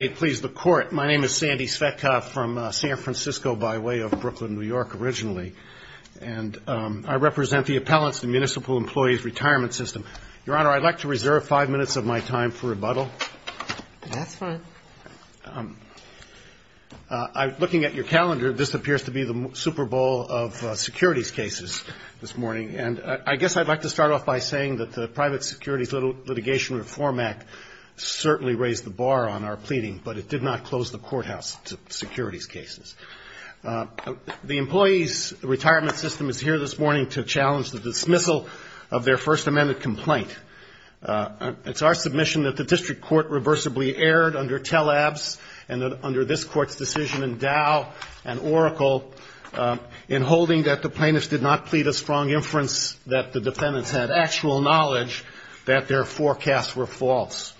My name is Sandy Svetkov from San Francisco by way of Brooklyn, New York, originally. And I represent the Appellants and Municipal Employees Retirement System. Your Honor, I'd like to reserve five minutes of my time for rebuttal. That's fine. Looking at your calendar, this appears to be the Super Bowl of securities cases this morning. And I guess I'd like to start off by saying that the Private Securities Litigation Reform Act certainly raised the bar on our pleading, but it did not close the courthouse to securities cases. The Employees Retirement System is here this morning to challenge the dismissal of their First Amendment complaint. It's our submission that the district court reversibly erred under Telab's and under this court's decision, and Dow and Oracle in holding that the plaintiffs did not plead a strong inference, that the defendants had actual knowledge that their forecasts were false.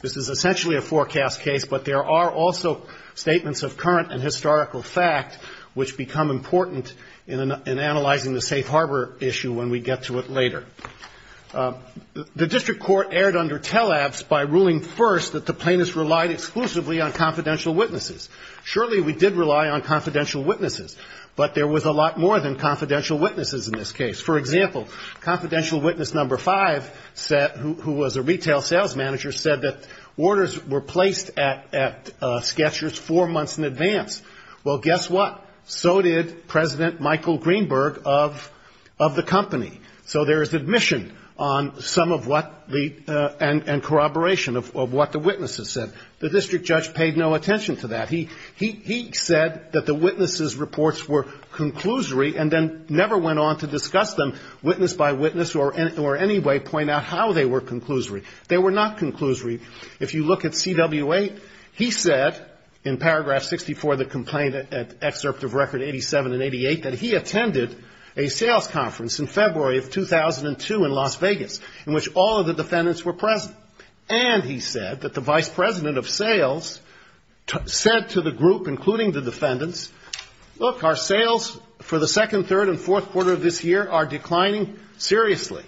This is essentially a forecast case, but there are also statements of current and historical fact which become important in analyzing the safe harbor issue when we get to it later. The district court erred under Telab's by ruling first that the plaintiffs relied exclusively on confidential witnesses. Surely we did rely on confidential witnesses, but there was a lot more than confidential witnesses in this case. For example, confidential witness number five said, who was a retail sales manager, said that orders were placed at Sketchers four months in advance. Well, guess what? So did President Michael Greenberg of the company. So there is admission on some of what the and corroboration of what the witnesses said. The district judge paid no attention to that. He said that the witnesses' reports were conclusory and then never went on to discuss them witness by witness or any way point out how they were conclusory. They were not conclusory. If you look at CW8, he said in paragraph 64 of the complaint at excerpt of record 87 and 88 that he attended a sales conference in February of 2002 in Las Vegas in which all of the defendants were present. And he said that the vice president of sales said to the group, including the defendants, look, our sales for the second, third and fourth quarter of this year are declining seriously.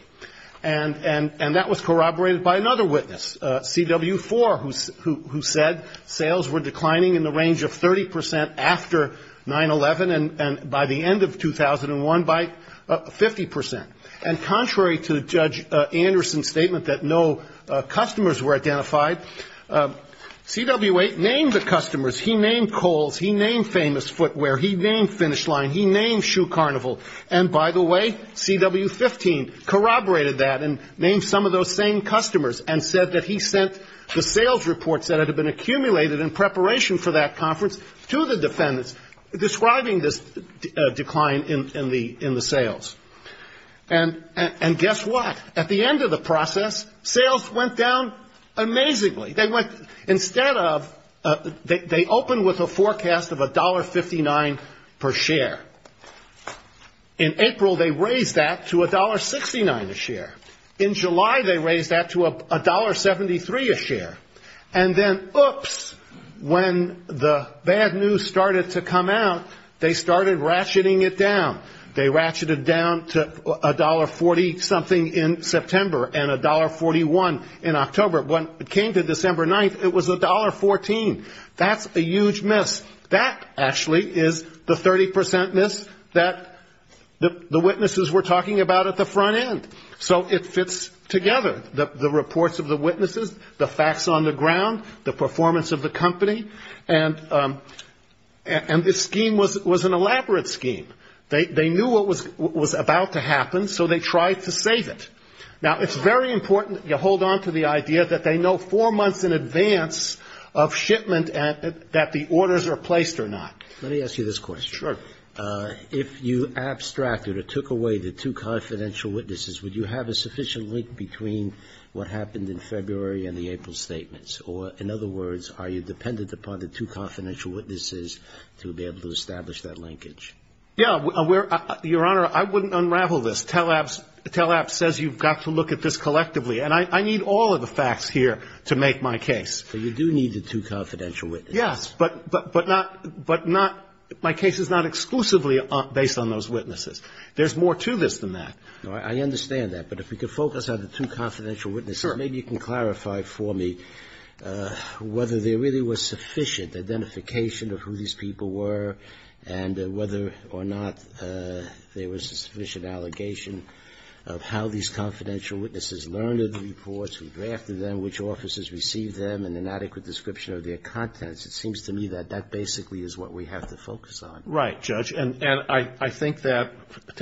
And that was corroborated by another witness, CW4, who said sales were declining in the range of 30 percent after 9-11 and by the end of 2001 by 50 percent. And contrary to Judge Anderson's statement that no customers were identified, CW8 named the customers. He named Kohl's. He named Famous Footwear. He named Finish Line. He named Shoe Carnival. And by the way, CW15 corroborated that and named some of those same customers and said that he sent the sales reports that had been accumulated in preparation for that conference to the defendants describing this decline in the sales. And guess what? At the end of the process, sales went down amazingly. They went – instead of – they opened with a forecast of $1.59 per share. In April, they raised that to $1.69 a share. In July, they raised that to $1.73 a share. And then, oops, when the bad news started to come out, they started ratcheting it down. They ratcheted down to $1.40-something in September and $1.41 in October. When it came to December 9th, it was $1.14. That's a huge miss. That actually is the 30 percent miss that the witnesses were talking about at the front end. So it fits together, the reports of the witnesses, the facts on the ground, the performance of the company. And this scheme was an elaborate scheme. They knew what was about to happen, so they tried to save it. Now, it's very important you hold on to the idea that they know four months in advance of shipment that the orders are placed or not. Let me ask you this question. Sure. If you abstracted or took away the two confidential witnesses, would you have a sufficient link between what happened in February and the April statements? Or, in other words, are you dependent upon the two confidential witnesses to be able to establish that linkage? Yeah. Your Honor, I wouldn't unravel this. TELAPP says you've got to look at this collectively. And I need all of the facts here to make my case. So you do need the two confidential witnesses. Yes. But not my case is not exclusively based on those witnesses. There's more to this than that. I understand that. But if we could focus on the two confidential witnesses, maybe you can clarify for me whether there really was sufficient identification of who these people were and whether or not there was a sufficient allegation of how these confidential witnesses learned of the reports, who drafted them, which offices received them, and an adequate description of their contents. It seems to me that that basically is what we have to focus on. Right, Judge. And I think that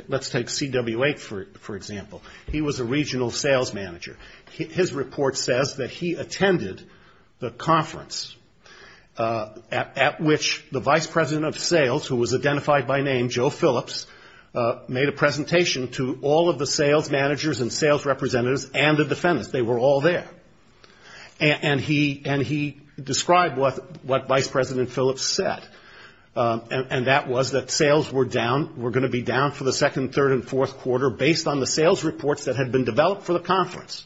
let's take C.W.A. for example. He was a regional sales manager. His report says that he attended the conference at which the vice president of sales, who was identified by name Joe Phillips, made a presentation to all of the sales managers and sales representatives and the defendants. They were all there. And he described what Vice President Phillips said, and that was that sales were down, for the second, third, and fourth quarter, based on the sales reports that had been developed for the conference.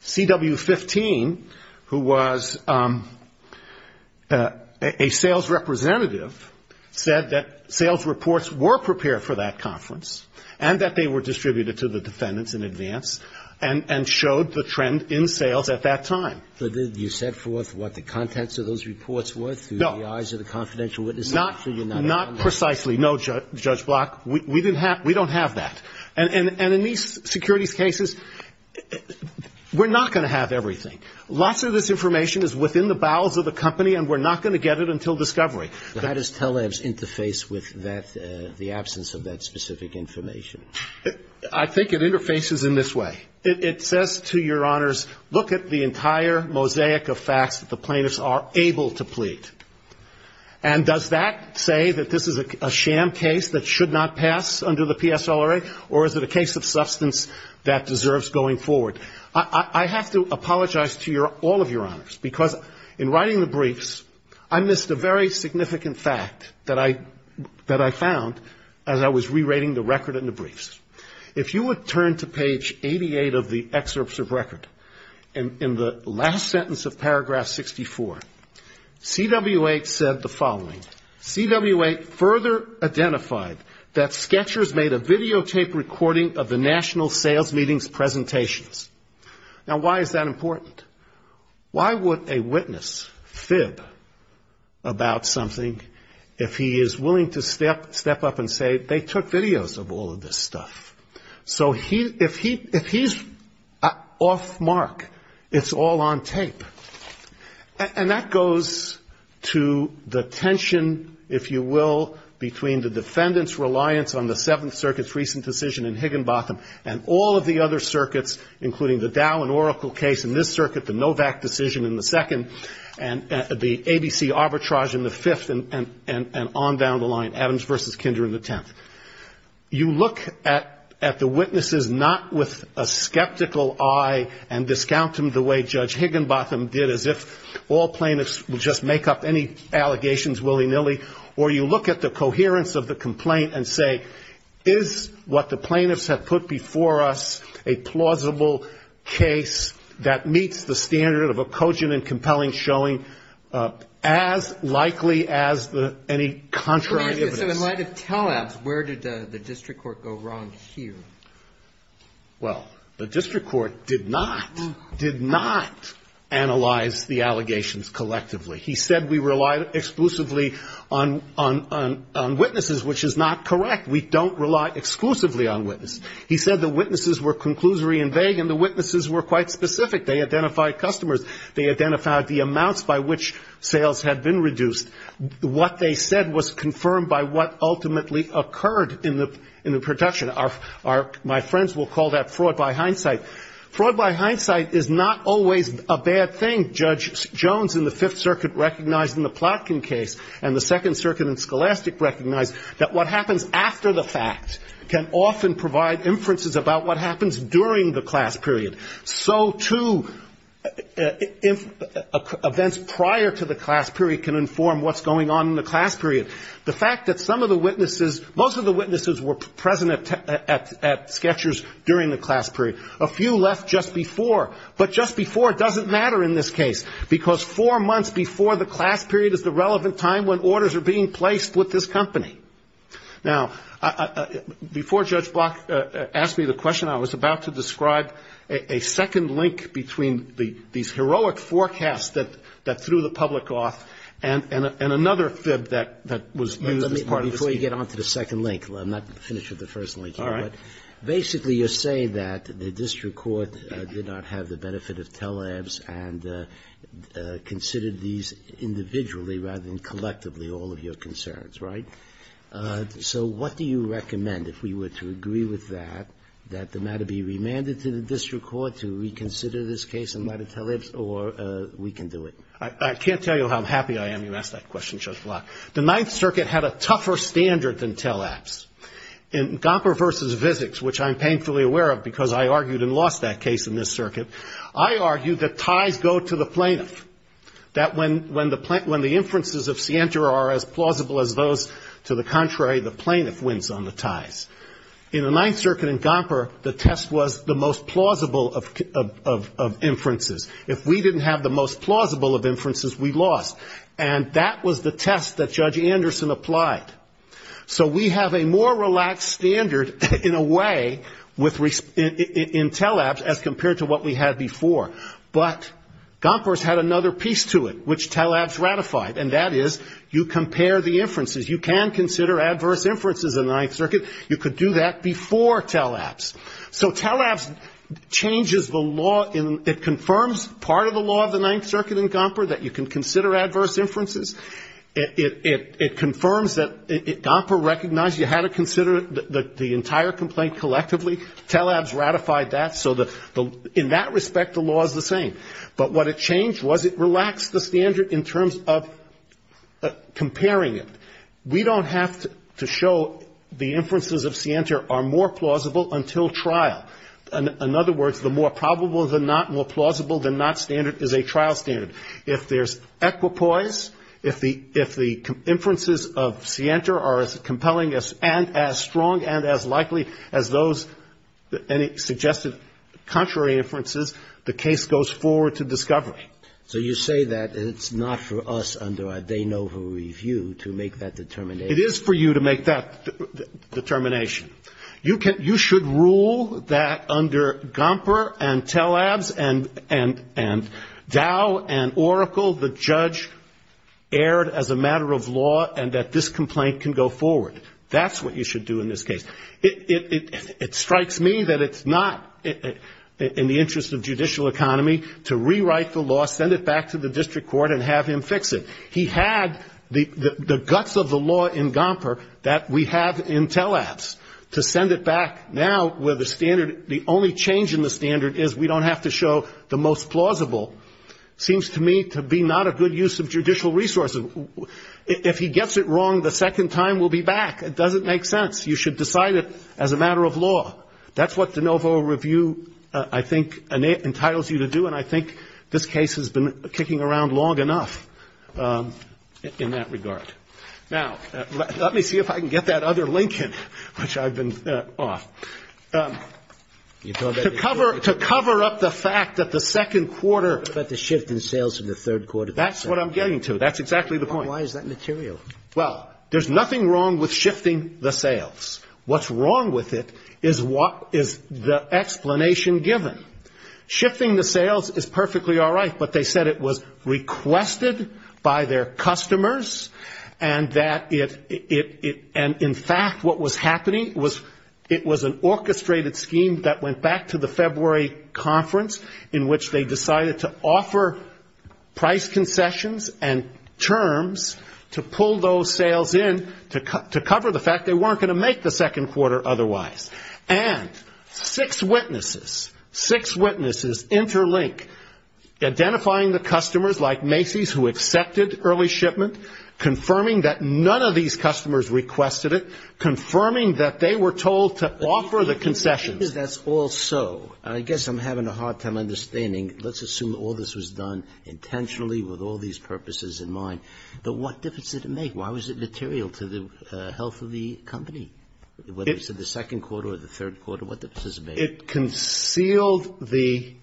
C.W. 15, who was a sales representative, said that sales reports were prepared for that conference and that they were distributed to the defendants in advance and showed the trend in sales at that time. But did you set forth what the contents of those reports were through the eyes of the confidential witnesses? No. So you're not at all. Not precisely. No, Judge Block. We don't have that. And in these securities cases, we're not going to have everything. Lots of this information is within the bowels of the company, and we're not going to get it until discovery. How does TELEVS interface with the absence of that specific information? I think it interfaces in this way. It says to your honors, look at the entire mosaic of facts that the plaintiffs are able to plead. And does that say that this is a sham case that should not pass under the PSLRA, or is it a case of substance that deserves going forward? I have to apologize to all of your honors, because in writing the briefs, I missed a very significant fact that I found as I was rewriting the record in the briefs. If you would turn to page 88 of the excerpts of record, in the last sentence of paragraph 64, CW8 said the following. CW8 further identified that Sketchers made a videotaped recording of the national sales meetings presentations. Now, why is that important? Why would a witness fib about something if he is willing to step up and say, they took videos of all of this stuff? So if he's off mark, it's all on tape. And that goes to the tension, if you will, between the defendant's reliance on the Seventh Circuit's recent decision in Higginbotham and all of the other circuits, including the Dow and Oracle case in this circuit, the Novak decision in the second, and the ABC arbitrage in the fifth, and on down the line, Adams v. Kinder in the tenth. You look at the witnesses not with a skeptical eye and discount them the way Judge Higginbotham did, as if all plaintiffs would just make up any allegations willy-nilly, or you look at the coherence of the complaint and say, is what the plaintiffs have put before us a plausible case that meets the standard of a cogent and compelling showing as likely as any contrary evidence? So in light of tele-abs, where did the district court go wrong here? Well, the district court did not, did not analyze the allegations collectively. He said we relied exclusively on witnesses, which is not correct. We don't rely exclusively on witnesses. He said the witnesses were conclusory and vague, and the witnesses were quite specific. They identified customers. They identified the amounts by which sales had been reduced. What they said was confirmed by what ultimately occurred in the production. My friends will call that fraud by hindsight. Fraud by hindsight is not always a bad thing. Judge Jones in the Fifth Circuit recognized in the Plotkin case and the Second Circuit and Scholastic recognized that what happens after the fact can often provide inferences about what happens during the class period. So, too, events prior to the class period can inform what's going on in the class period. The fact that some of the witnesses, most of the witnesses were present at Sketchers during the class period. A few left just before, but just before doesn't matter in this case because four months before the class period is the relevant time when orders are being placed with this company. Now, before Judge Block asked me the question, I was about to describe a second link between these heroic forecasts that threw the public off and another fib that was used as part of the speech. Let me, before you get on to the second link, I'm not finished with the first link here. All right. Basically, you're saying that the district court did not have the benefit of tele-abs and considered these individually rather than collectively all of your concerns, right? So what do you recommend, if we were to agree with that, that the matter be remanded to the district court to reconsider this case and let it tele-abs or we can do it? I can't tell you how happy I am you asked that question, Judge Block. The Ninth Circuit had a tougher standard than tele-abs. In Gomper v. Vizics, which I'm painfully aware of because I argued and lost that case in this circuit, I argued that ties go to the plaintiff, that when the inferences of scienter are as plausible as those to the contrary, the plaintiff wins on the ties. In the Ninth Circuit in Gomper, the test was the most plausible of inferences. If we didn't have the most plausible of inferences, we lost. And that was the test that Judge Anderson applied. So we have a more relaxed standard in a way in tele-abs as compared to what we had before. But Gomper's had another piece to it, which tele-abs ratified, and that is you compare the inferences. You can consider adverse inferences in the Ninth Circuit. You could do that before tele-abs. So tele-abs changes the law. It confirms part of the law of the Ninth Circuit in Gomper that you can consider adverse inferences. It confirms that Gomper recognized you had to consider the entire complaint collectively. Tele-abs ratified that. So in that respect, the law is the same. But what it changed was it relaxed the standard in terms of comparing it. We don't have to show the inferences of scienter are more plausible until trial. In other words, the more probable than not, more plausible than not standard is a trial standard. If there's equipoise, if the inferences of scienter are as compelling and as strong and as likely as those suggested contrary inferences, the case goes forward to discovery. So you say that it's not for us under a de novo review to make that determination. It is for you to make that determination. You should rule that under Gomper and tele-abs and Dow and Oracle the judge erred as a matter of law and that this complaint can go forward. That's what you should do in this case. It strikes me that it's not in the interest of judicial economy to rewrite the law, send it back to the district court and have him fix it. He had the guts of the law in Gomper that we have in tele-abs to send it back now where the standard, the only change in the standard is we don't have to show the most plausible seems to me to be not a good use of judicial resources. If he gets it wrong the second time, we'll be back. It doesn't make sense. Well, that's what de novo review I think entitles you to do and I think this case has been kicking around long enough in that regard. Now, let me see if I can get that other link in which I've been off. To cover up the fact that the second quarter. But the shift in sales in the third quarter. That's what I'm getting to. That's exactly the point. Why is that material? Well, there's nothing wrong with shifting the sales. What's wrong with it is what is the explanation given? Shifting the sales is perfectly all right, but they said it was requested by their customers and that it, and in fact what was happening was it was an orchestrated scheme that went back to the February conference in which they decided to offer price concessions and terms to pull those sales in to cover the fact they weren't going to make the second quarter otherwise. And six witnesses, six witnesses interlink identifying the customers like Macy's who accepted early shipment, confirming that none of these customers requested it, confirming that they were told to offer the concessions. I guess that's also, I guess I'm having a hard time understanding, let's assume all this was done intentionally with all these purposes in mind, but what difference did it make? Why was it material to the health of the company, whether it's in the second quarter or the third quarter? What difference does it make? It concealed the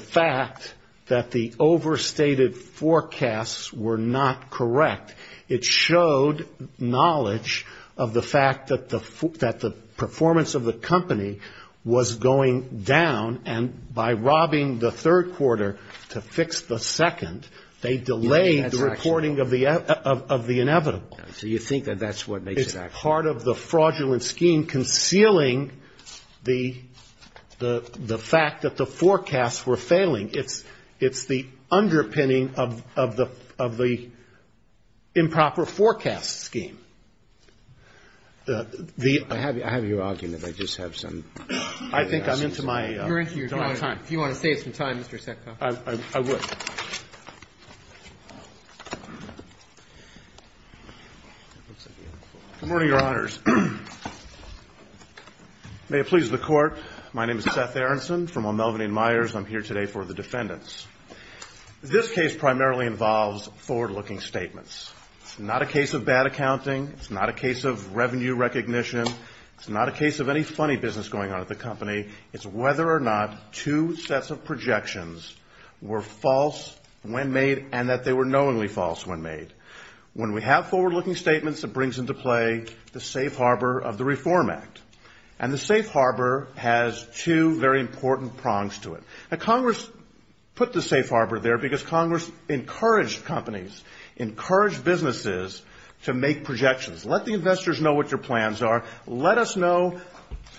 fact that the overstated forecasts were not correct. It showed knowledge of the fact that the performance of the company was going down, and by robbing the third quarter to fix the second, they delayed the reporting of the inevitable. So you think that that's what makes it actionable? It's part of the fraudulent scheme concealing the fact that the forecasts were failing. It's the underpinning of the improper forecast scheme. The ---- I have your argument. I just have some other questions. I think I'm into my time. You're into your time. If you want to save some time, Mr. Setka. I would. Good morning, Your Honors. May it please the Court. My name is Seth Aronson. I'm here today for the defendants. This case primarily involves forward-looking statements. It's not a case of bad accounting. It's not a case of revenue recognition. It's not a case of any funny business going on at the company. It's whether or not two sets of projections were false when made and that they were knowingly false when made. When we have forward-looking statements, it brings into play the safe harbor of the Reform Act, and the safe harbor has two very important prongs to it. Now, Congress put the safe harbor there because Congress encouraged companies, encouraged businesses to make projections. Let the investors know what your plans are. Let us know,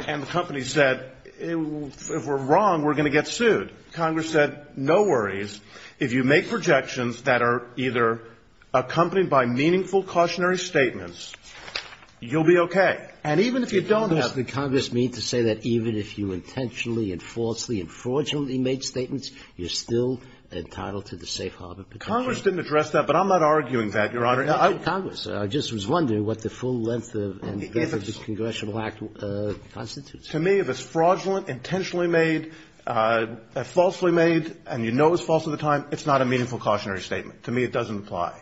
and the company said, if we're wrong, we're going to get sued. Congress said, no worries. If you make projections that are either accompanied by meaningful cautionary statements, you'll be okay. And even if you don't have to say that, even if you intentionally and falsely and fraudulently made statements, you're still entitled to the safe harbor protection. Congress didn't address that, but I'm not arguing that, Your Honor. Congress. I just was wondering what the full length of the Congressional Act constitutes. To me, if it's fraudulent, intentionally made, falsely made, and you know it's false all the time, it's not a meaningful cautionary statement. To me, it doesn't apply.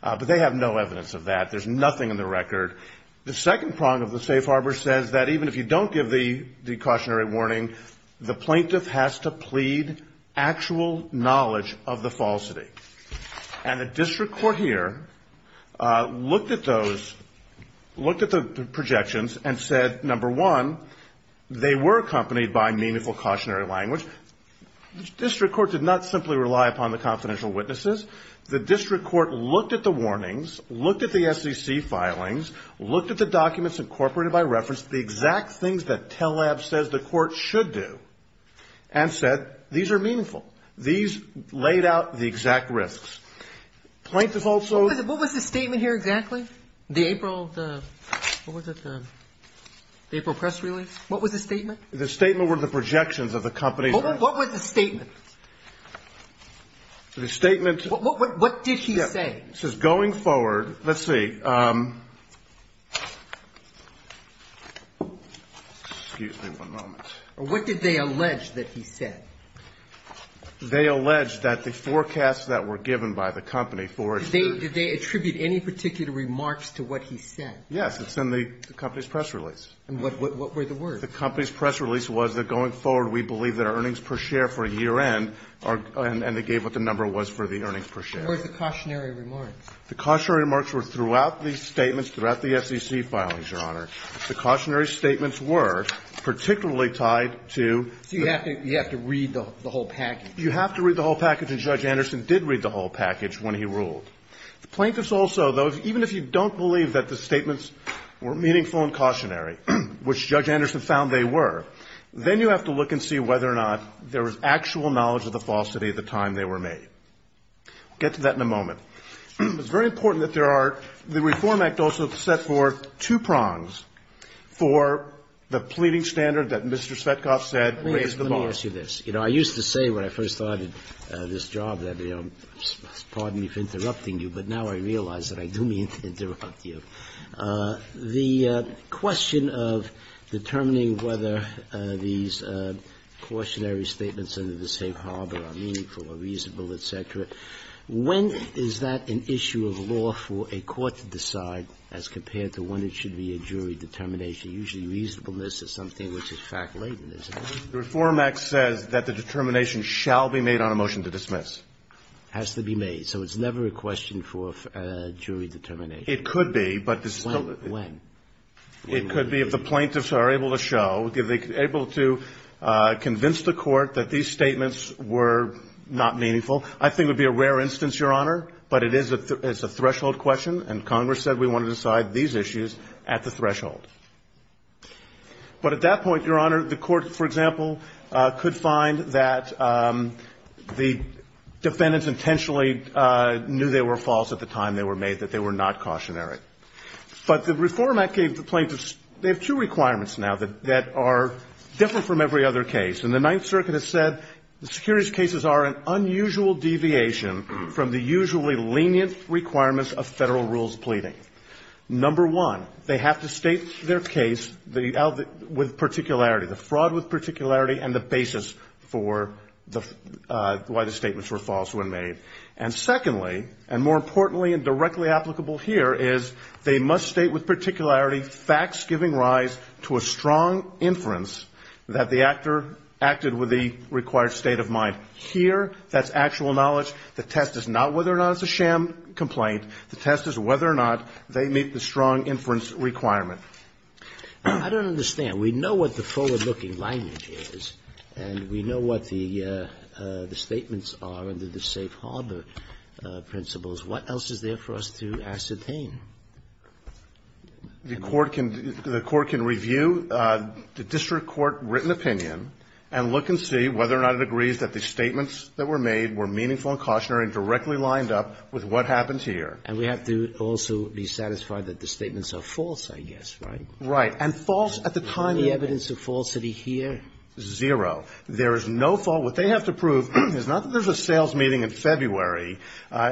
But they have no evidence of that. There's nothing in the record. The second prong of the safe harbor says that even if you don't give the cautionary warning, the plaintiff has to plead actual knowledge of the falsity. And the district court here looked at those, looked at the projections and said, number one, they were accompanied by meaningful cautionary language. The district court did not simply rely upon the confidential witnesses. The district court looked at the warnings, looked at the SEC filings, looked at the documents incorporated by reference, the exact things that TLAB says the court should do, and said these are meaningful. These laid out the exact risks. Plaintiff also ---- What was the statement here exactly? The April, what was it, the April press release? What was the statement? The statement were the projections of the company. What was the statement? The statement ---- What did he say? It says going forward, let's see. Excuse me one moment. What did they allege that he said? They allege that the forecasts that were given by the company for ---- Did they attribute any particular remarks to what he said? Yes. It's in the company's press release. And what were the words? The company's press release was that going forward, we believe that our earnings per share for a year end are ---- and they gave what the number was for the earnings per share. What were the cautionary remarks? The cautionary remarks were throughout these statements, throughout the SEC filings, Your Honor. The cautionary statements were particularly tied to ---- So you have to read the whole package. You have to read the whole package, and Judge Anderson did read the whole package when he ruled. The plaintiffs also, though, even if you don't believe that the statements were meaningful and cautionary, which Judge Anderson found they were, then you have to look and see whether or not there was actual knowledge of the falsity at the time they were made. We'll get to that in a moment. It's very important that there are ---- the Reform Act also set forth two prongs for the pleading standard that Mr. Svetkov said raised the bar. Let me ask you this. You know, I used to say when I first started this job that, pardon me for interrupting you, but now I realize that I do mean to interrupt you. The question of determining whether these cautionary statements under the safe harbor are meaningful or reasonable, et cetera, when is that an issue of law for a court to decide as compared to when it should be a jury determination? Usually reasonableness is something which is fact-laden, isn't it? The Reform Act says that the determination shall be made on a motion to dismiss. Has to be made. So it's never a question for jury determination. It could be, but it's still ---- When? It could be if the plaintiffs are able to show, if they're able to convince the Court that these statements were not meaningful. I think it would be a rare instance, Your Honor, but it is a threshold question, and Congress said we want to decide these issues at the threshold. But at that point, Your Honor, the Court, for example, could find that the defendants intentionally knew they were false at the time they were made, that they were not cautionary. But the Reform Act gave the plaintiffs ---- they have two requirements now that are different from every other case. And the Ninth Circuit has said the securities cases are an unusual deviation from the usually lenient requirements of Federal rules pleading. Number one, they have to state their case with particularity, the fraud with particularity, and the basis for why the statements were false when made. And secondly, and more importantly and directly applicable here, is they must state with particularity facts giving rise to a strong inference that the actor acted with the required state of mind. Here, that's actual knowledge. The test is not whether or not it's a sham complaint. The test is whether or not they meet the strong inference requirement. I don't understand. We know what the forward-looking language is, and we know what the statements are under the safe harbor principles. What else is there for us to ascertain? The Court can review the district court written opinion and look and see whether or not it agrees that the statements that were made were meaningful and cautionary and directly lined up with what happens here. And we have to also be satisfied that the statements are false, I guess, right? Right. And false at the time of the evidence of falsity here? Zero. There is no fault. What they have to prove is not that there's a sales meeting in February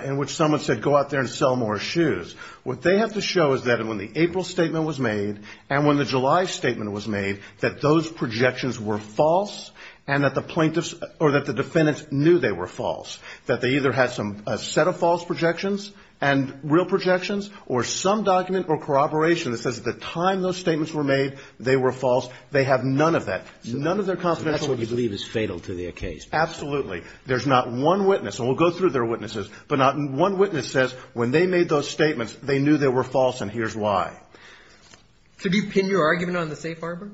in which someone said go out there and sell more shoes. What they have to show is that when the April statement was made and when the July statement was made, that those projections were false and that the plaintiffs or that the defendants knew they were false, that they either had some set of false projections and real projections or some document or corroboration that says at the time those statements were made they were false. They have none of that. None of their confidentiality. So that's what you believe is fatal to their case? Absolutely. There's not one witness. And we'll go through their witnesses. But not one witness says when they made those statements, they knew they were false and here's why. So do you pin your argument on the safe harbor?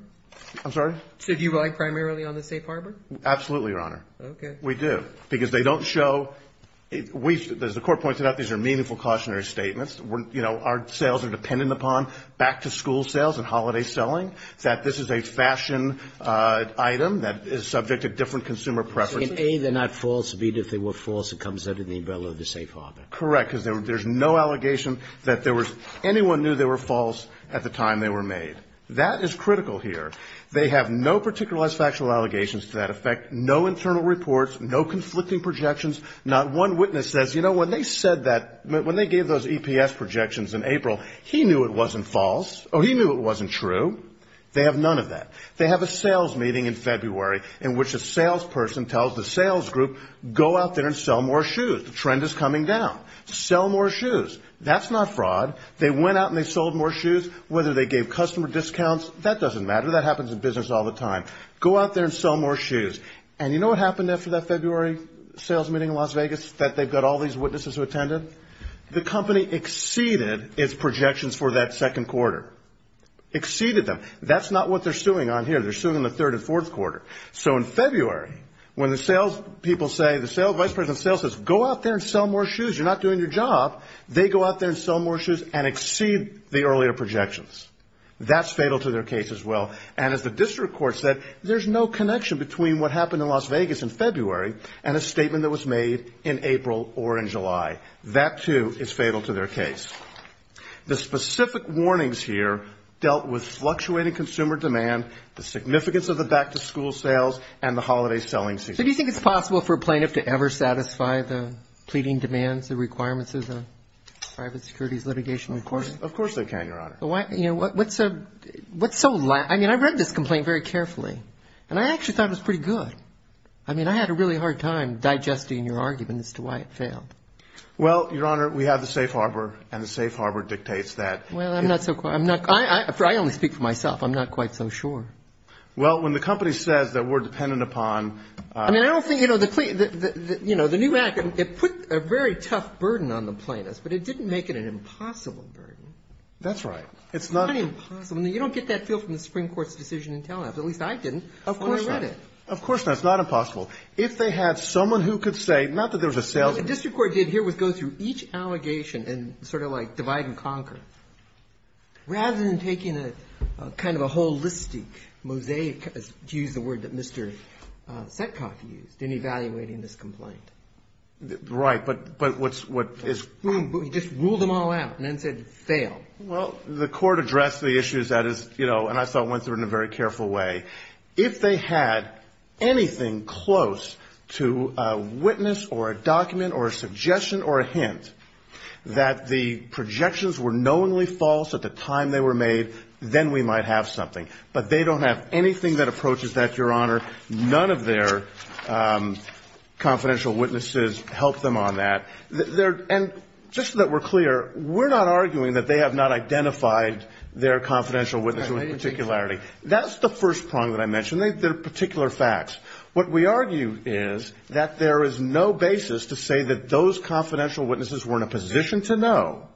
I'm sorry? So do you rely primarily on the safe harbor? Absolutely, Your Honor. Okay. We do. Because they don't show we've, as the Court pointed out, these are meaningful cautionary statements. You know, our sales are dependent upon back-to-school sales and holiday selling, that this is a fashion item that is subject to different consumer preferences. In A, they're not false. In B, if they were false, it comes under the umbrella of the safe harbor. Correct. Because there's no allegation that there was anyone knew they were false at the time they were made. That is critical here. They have no particular less factual allegations to that effect, no internal reports, no conflicting projections. Not one witness says, you know, when they said that, when they gave those EPS projections in April, he knew it wasn't false or he knew it wasn't true. They have none of that. They have a sales meeting in February in which a salesperson tells the sales group, go out there and sell more shoes. The trend is coming down. Sell more shoes. That's not fraud. They went out and they sold more shoes. Whether they gave customer discounts, that doesn't matter. That happens in business all the time. Go out there and sell more shoes. And you know what happened after that February sales meeting in Las Vegas, that they've got all these witnesses who attended? The company exceeded its projections for that second quarter. Exceeded them. That's not what they're suing on here. They're suing the third and fourth quarter. So in February, when the sales people say, the sales vice president of sales says, go out there and sell more shoes. You're not doing your job. They go out there and sell more shoes and exceed the earlier projections. That's fatal to their case as well. And as the district court said, there's no connection between what happened in Las Vegas in February and a statement that was made in April or in July. That, too, is fatal to their case. The specific warnings here dealt with fluctuating consumer demand, the significance of the back-to-school sales, and the holiday selling season. So do you think it's possible for a plaintiff to ever satisfy the pleading demands, the requirements of the private securities litigation court? Of course they can, Your Honor. I mean, I read this complaint very carefully. And I actually thought it was pretty good. I mean, I had a really hard time digesting your argument as to why it failed. Well, Your Honor, we have the safe harbor, and the safe harbor dictates that. Well, I'm not so sure. I only speak for myself. I'm not quite so sure. Well, when the company says that we're dependent upon ---- I mean, I don't think, you know, the new act, it put a very tough burden on the plaintiffs, but it didn't make it an impossible burden. That's right. It's not impossible. I mean, you don't get that feel from the Supreme Court's decision in Telnav, at least I didn't when I read it. Of course not. Of course not. It's not impossible. If they had someone who could say, not that there was a salesman. What the district court did here was go through each allegation and sort of like divide and conquer. Rather than taking a kind of a holistic mosaic, to use the word that Mr. Setkoff used, in evaluating this complaint. Right. But what is ---- Well, the court addressed the issues that is, you know, and I saw it went through in a very careful way. If they had anything close to a witness or a document or a suggestion or a hint that the projections were knowingly false at the time they were made, then we might have something. But they don't have anything that approaches that, Your Honor. None of their confidential witnesses help them on that. And just so that we're clear, we're not arguing that they have not identified their confidential witness with particularity. That's the first prong that I mentioned. They're particular facts. What we argue is that there is no basis to say that those confidential witnesses were in a position to know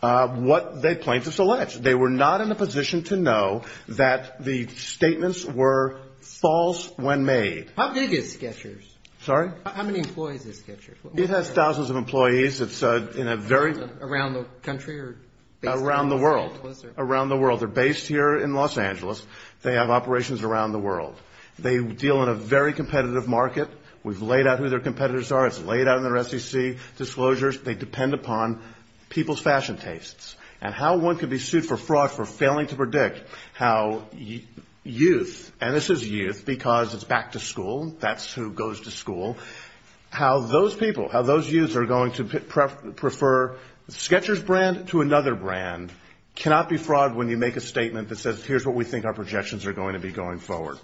what the plaintiffs alleged. They were not in a position to know that the statements were false when made. How big is Sketchers? Sorry? How many employees is Sketchers? It has thousands of employees. It's in a very ---- Around the country or ---- Around the world. Around the world. They're based here in Los Angeles. They have operations around the world. They deal in a very competitive market. We've laid out who their competitors are. It's laid out in their SEC disclosures. They depend upon people's fashion tastes. And how one can be sued for fraud for failing to predict how youth, and this is youth because it's back to school, that's who goes to school. How those people, how those youths are going to prefer Sketchers brand to another brand cannot be fraud when you make a statement that says, here's what we think our projections are going to be going forward.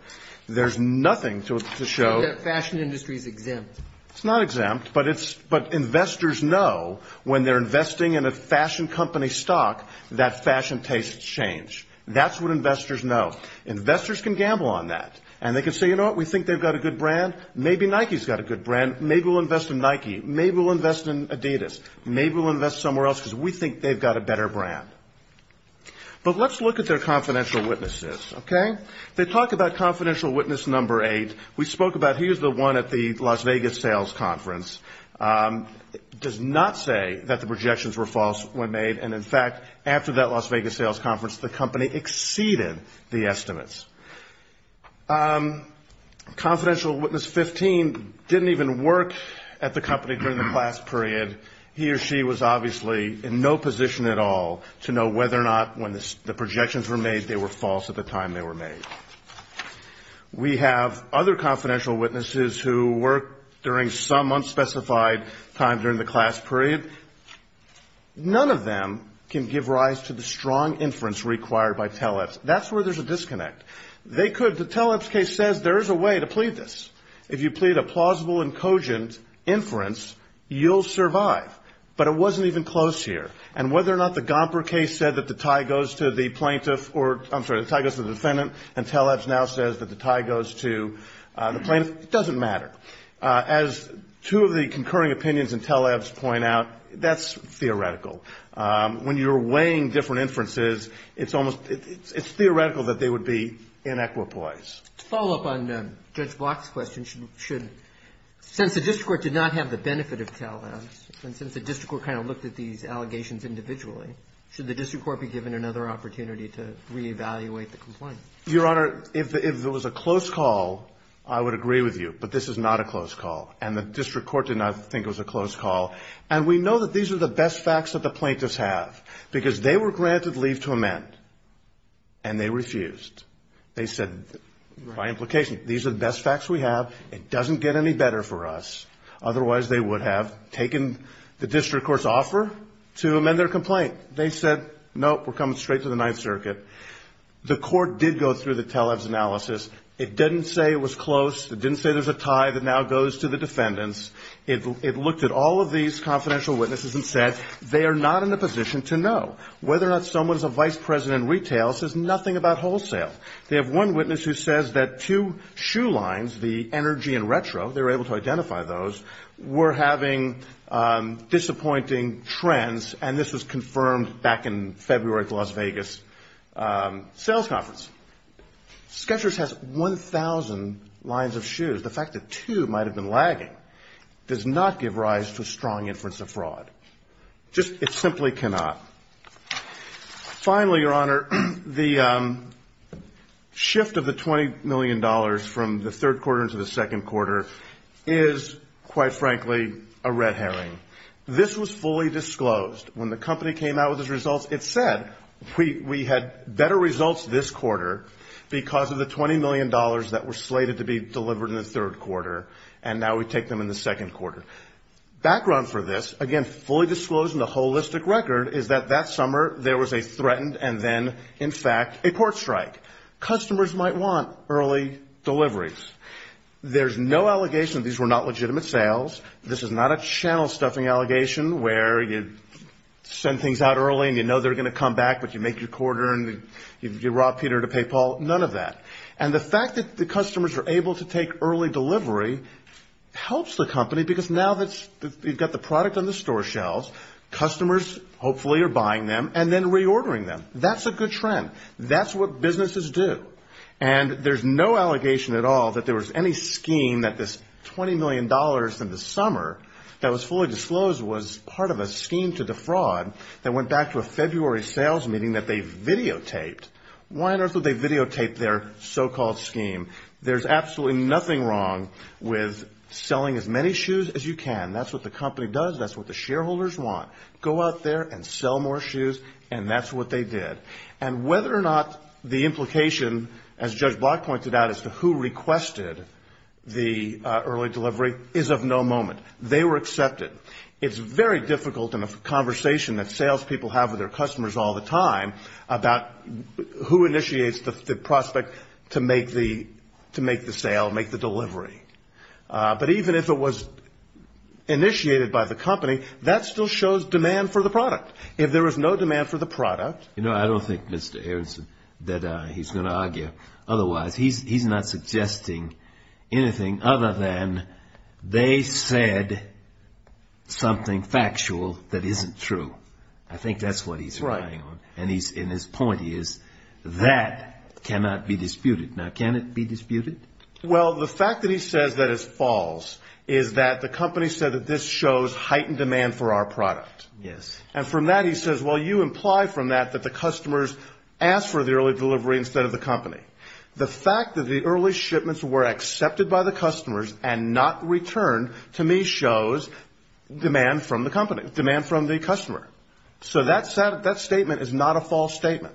There's nothing to show that fashion industry is exempt. It's not exempt, but investors know when they're investing in a fashion company stock, that fashion tastes change. That's what investors know. Investors can gamble on that. And they can say, you know what, we think they've got a good brand. Maybe Nike's got a good brand. Maybe we'll invest in Nike. Maybe we'll invest in Adidas. Maybe we'll invest somewhere else because we think they've got a better brand. But let's look at their confidential witnesses, okay? They talk about confidential witness number eight. We spoke about here's the one at the Las Vegas sales conference. It does not say that the projections were false when made. Confidential witness 15 didn't even work at the company during the class period. He or she was obviously in no position at all to know whether or not when the projections were made, they were false at the time they were made. We have other confidential witnesses who worked during some unspecified time during the class period. None of them can give rise to the strong inference required by teleps. That's where there's a disconnect. They could. The teleps case says there is a way to plead this. If you plead a plausible and cogent inference, you'll survive. But it wasn't even close here. And whether or not the Gomper case said that the tie goes to the plaintiff or, I'm sorry, the tie goes to the defendant and teleps now says that the tie goes to the plaintiff, it doesn't matter. As two of the concurring opinions in teleps point out, that's theoretical. When you're weighing different inferences, it's almost, it's theoretical that they would be inequipoise. To follow up on Judge Block's question, should, since the district court did not have the benefit of teleps, and since the district court kind of looked at these allegations individually, should the district court be given another opportunity to reevaluate the complaint? Your Honor, if there was a close call, I would agree with you. But this is not a close call. And the district court did not think it was a close call. And we know that these are the best facts that the plaintiffs have because they were granted leave to amend. And they refused. They said, by implication, these are the best facts we have. It doesn't get any better for us. Otherwise, they would have taken the district court's offer to amend their complaint. They said, nope, we're coming straight to the Ninth Circuit. The court did go through the teleps analysis. It didn't say it was close. It didn't say there's a tie that now goes to the defendants. It looked at all of these confidential witnesses and said they are not in a position to know. Whether or not someone is a vice president in retail says nothing about wholesale. They have one witness who says that two shoe lines, the energy and retro, they were able to identify those, were having disappointing trends, and this was confirmed back in February at the Las Vegas sales conference. Sketchers has 1,000 lines of shoes. The fact that two might have been lagging does not give rise to a strong inference of fraud. It simply cannot. Finally, Your Honor, the shift of the $20 million from the third quarter into the second quarter is, quite frankly, a red herring. This was fully disclosed. When the company came out with its results, it said we had better results this quarter because of the $20 million that were slated to be delivered in the third quarter, and now we take them in the second quarter. Background for this, again, fully disclosed in the holistic record, is that that summer there was a threatened and then, in fact, a court strike. Customers might want early deliveries. There's no allegation that these were not legitimate sales. This is not a channel-stuffing allegation where you send things out early and you know they're going to come back, but you make your quarter and you rob Peter to pay Paul. None of that. And the fact that the customers are able to take early delivery helps the company because now that you've got the product on the store shelves, customers hopefully are buying them and then reordering them. That's a good trend. That's what businesses do. And there's no allegation at all that there was any scheme that this $20 million in the summer that was fully disclosed was part of a scheme to defraud that went back to a February sales meeting that they videotaped. Why on earth would they videotape their so-called scheme? There's absolutely nothing wrong with selling as many shoes as you can. That's what the company does. That's what the shareholders want. Go out there and sell more shoes, and that's what they did. And whether or not the implication, as Judge Block pointed out, as to who requested the early delivery is of no moment. They were accepted. It's very difficult in a conversation that salespeople have with their customers all the time about who initiates the prospect to make the sale, make the delivery. But even if it was initiated by the company, that still shows demand for the product. If there was no demand for the product. You know, I don't think, Mr. Aronson, that he's going to argue otherwise. He's not suggesting anything other than they said something factual that isn't true. I think that's what he's relying on. And his point is that cannot be disputed. Now, can it be disputed? Well, the fact that he says that is false is that the company said that this shows heightened demand for our product. Yes. And from that he says, well, you imply from that that the customers asked for the early delivery instead of the company. The fact that the early shipments were accepted by the customers and not returned to me shows demand from the company, demand from the customer. So that statement is not a false statement.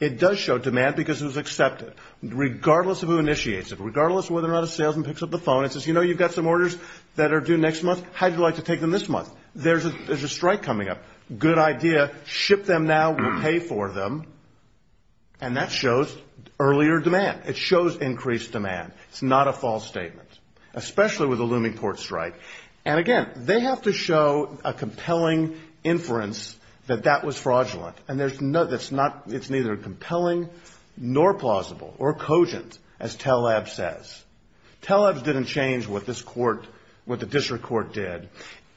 It does show demand because it was accepted, regardless of who initiates it, regardless of whether or not a salesman picks up the phone and says, you know, you've got some orders that are due next month. How would you like to take them this month? There's a strike coming up. Good idea. Ship them now. We'll pay for them. And that shows earlier demand. It shows increased demand. It's not a false statement, especially with a looming port strike. And, again, they have to show a compelling inference that that was fraudulent. And it's neither compelling nor plausible or cogent, as TELAB says. TELAB didn't change what this court, what the district court did.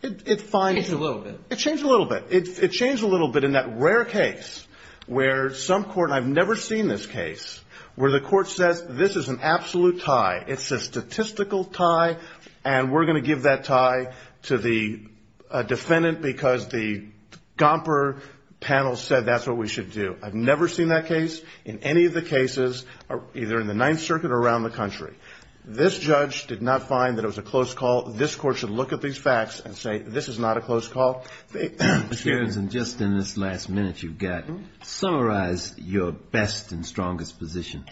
It changed a little bit. It changed a little bit. It changed a little bit in that rare case where some court, and I've never seen this case, where the court says this is an absolute tie, it's a statistical tie, and we're going to give that tie to the defendant because the Gomper panel said that's what we should do. I've never seen that case in any of the cases either in the Ninth Circuit or around the country. This judge did not find that it was a close call. This court should look at these facts and say this is not a close call. Mr. Jones, in just in this last minute you've got, summarize your best and strongest position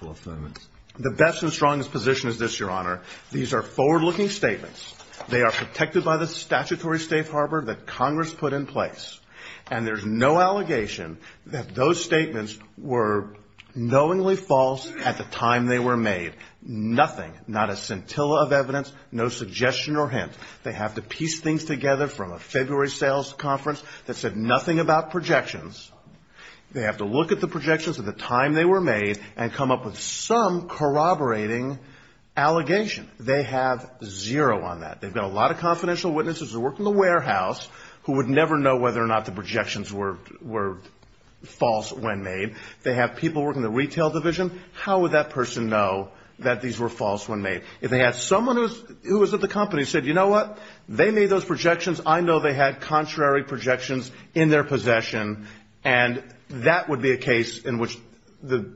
for affirmance. The best and strongest position is this, Your Honor. These are forward-looking statements. They are protected by the statutory safe harbor that Congress put in place, and there's no allegation that those statements were knowingly false at the time they were made. Nothing, not a scintilla of evidence, no suggestion or hint. They have to piece things together from a February sales conference that said nothing about projections. They have to look at the projections at the time they were made and come up with some corroborating allegation. They have zero on that. They've got a lot of confidential witnesses who work in the warehouse who would never know whether or not the projections were false when made. They have people working in the retail division. How would that person know that these were false when made? If they had someone who was at the company who said, you know what, they made those projections. I know they had contrary projections in their possession, and that would be a case in which the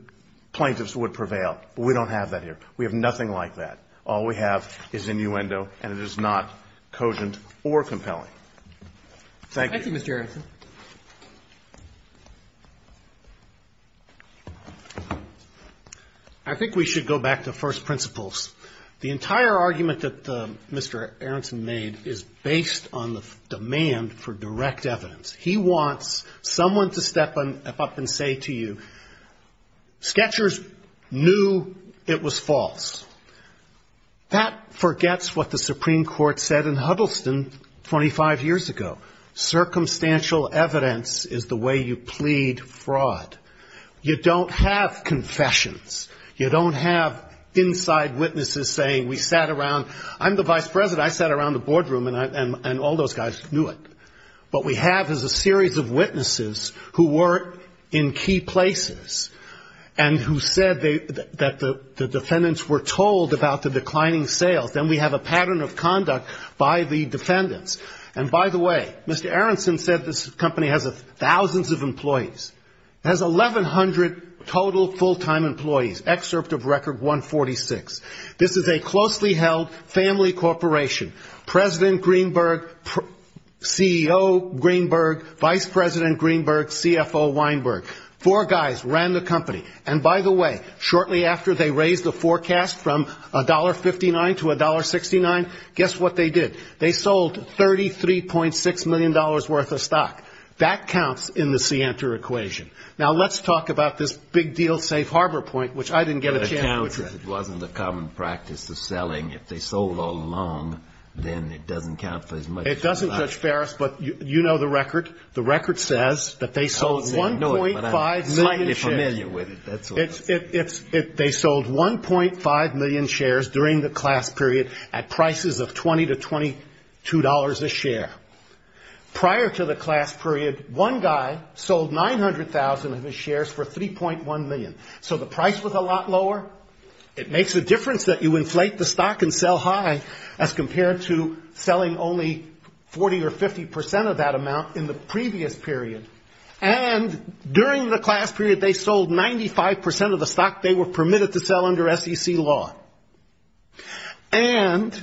plaintiffs would prevail. We don't have that here. We have nothing like that. All we have is innuendo, and it is not cogent or compelling. Thank you. Thank you, Mr. Aronson. I think we should go back to first principles. The entire argument that Mr. Aronson made is based on the demand for direct evidence. He wants someone to step up and say to you, Sketchers knew it was false. That forgets what the Supreme Court said in Huddleston 25 years ago. Circumstantial evidence is the way you plead fraud. You don't have confessions. You don't have inside witnesses saying we sat around. I'm the vice president. I sat around the boardroom, and all those guys knew it. What we have is a series of witnesses who were in key places and who said that the defendants were told about the declining sales. Then we have a pattern of conduct by the defendants. And, by the way, Mr. Aronson said this company has thousands of employees. It has 1,100 total full-time employees, excerpt of Record 146. This is a closely held family corporation. President Greenberg, CEO Greenberg, Vice President Greenberg, CFO Weinberg. Four guys ran the company. And, by the way, shortly after they raised the forecast from $1.59 to $1.69, guess what they did. They sold $33.6 million worth of stock. That counts in the Sienter equation. Now let's talk about this big deal safe harbor point, which I didn't get a chance to. It wasn't a common practice of selling. If they sold all along, then it doesn't count for as much. It doesn't, Judge Ferris, but you know the record. The record says that they sold 1.5 million shares. I'm slightly familiar with it. They sold 1.5 million shares during the class period at prices of $20 to $22 a share. Prior to the class period, one guy sold 900,000 of his shares for $3.1 million. So the price was a lot lower. It makes a difference that you inflate the stock and sell high as compared to selling only 40 or 50 percent of that amount in the previous period. And during the class period, they sold 95 percent of the stock they were permitted to sell under SEC law. And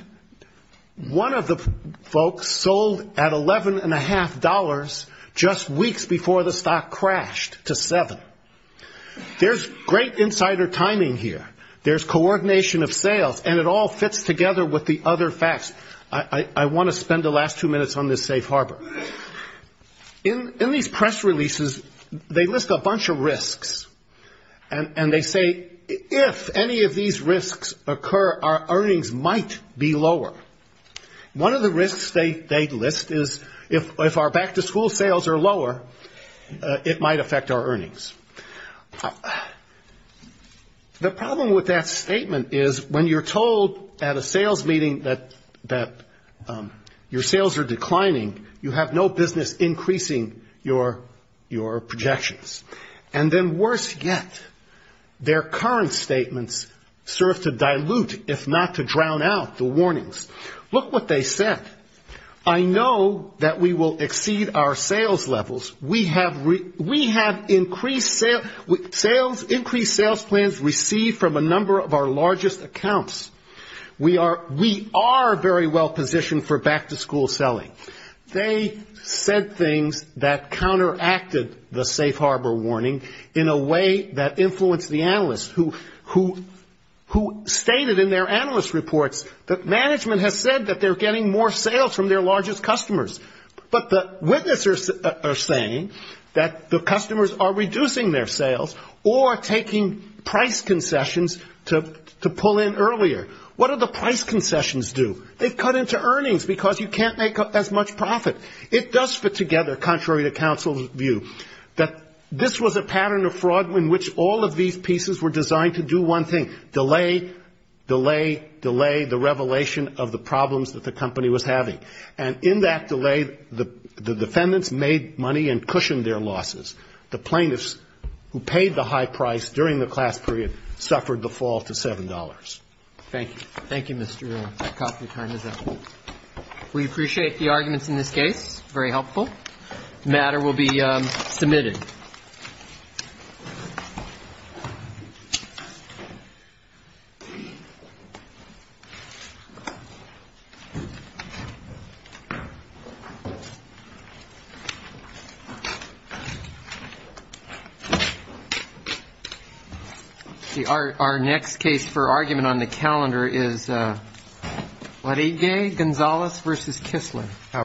one of the folks sold at $11.5 just weeks before the stock crashed to $7. There's great insider timing here. There's coordination of sales, and it all fits together with the other facts. I want to spend the last two minutes on this safe harbor. In these press releases, they list a bunch of risks, and they say if any of these risks occur, our earnings might be lower. One of the risks they list is if our back-to-school sales are lower, it might affect our earnings. The problem with that statement is when you're told at a sales meeting that your sales are declining, you have no business increasing your projections. And then worse yet, their current statements serve to dilute, if not to drown out, the warnings. Look what they said. I know that we will exceed our sales levels. We have increased sales plans received from a number of our largest accounts. We are very well positioned for back-to-school selling. They said things that counteracted the safe harbor warning in a way that influenced the analysts, who stated in their analyst reports that management has said that they're getting more sales from their largest customers. But the witnesses are saying that the customers are reducing their sales or taking price concessions to pull in earlier. What do the price concessions do? They cut into earnings because you can't make as much profit. It does fit together, contrary to counsel's view, that this was a pattern of fraud in which all of these pieces were designed to do one thing, delay, delay, delay the revelation of the problems that the company was having. And in that delay, the defendants made money and cushioned their losses. The plaintiffs who paid the high price during the class period suffered the fall to $7. Thank you. Thank you, Mr. Reynolds. Our coffee time is up. We appreciate the arguments in this case. Very helpful. The matter will be submitted. Thank you.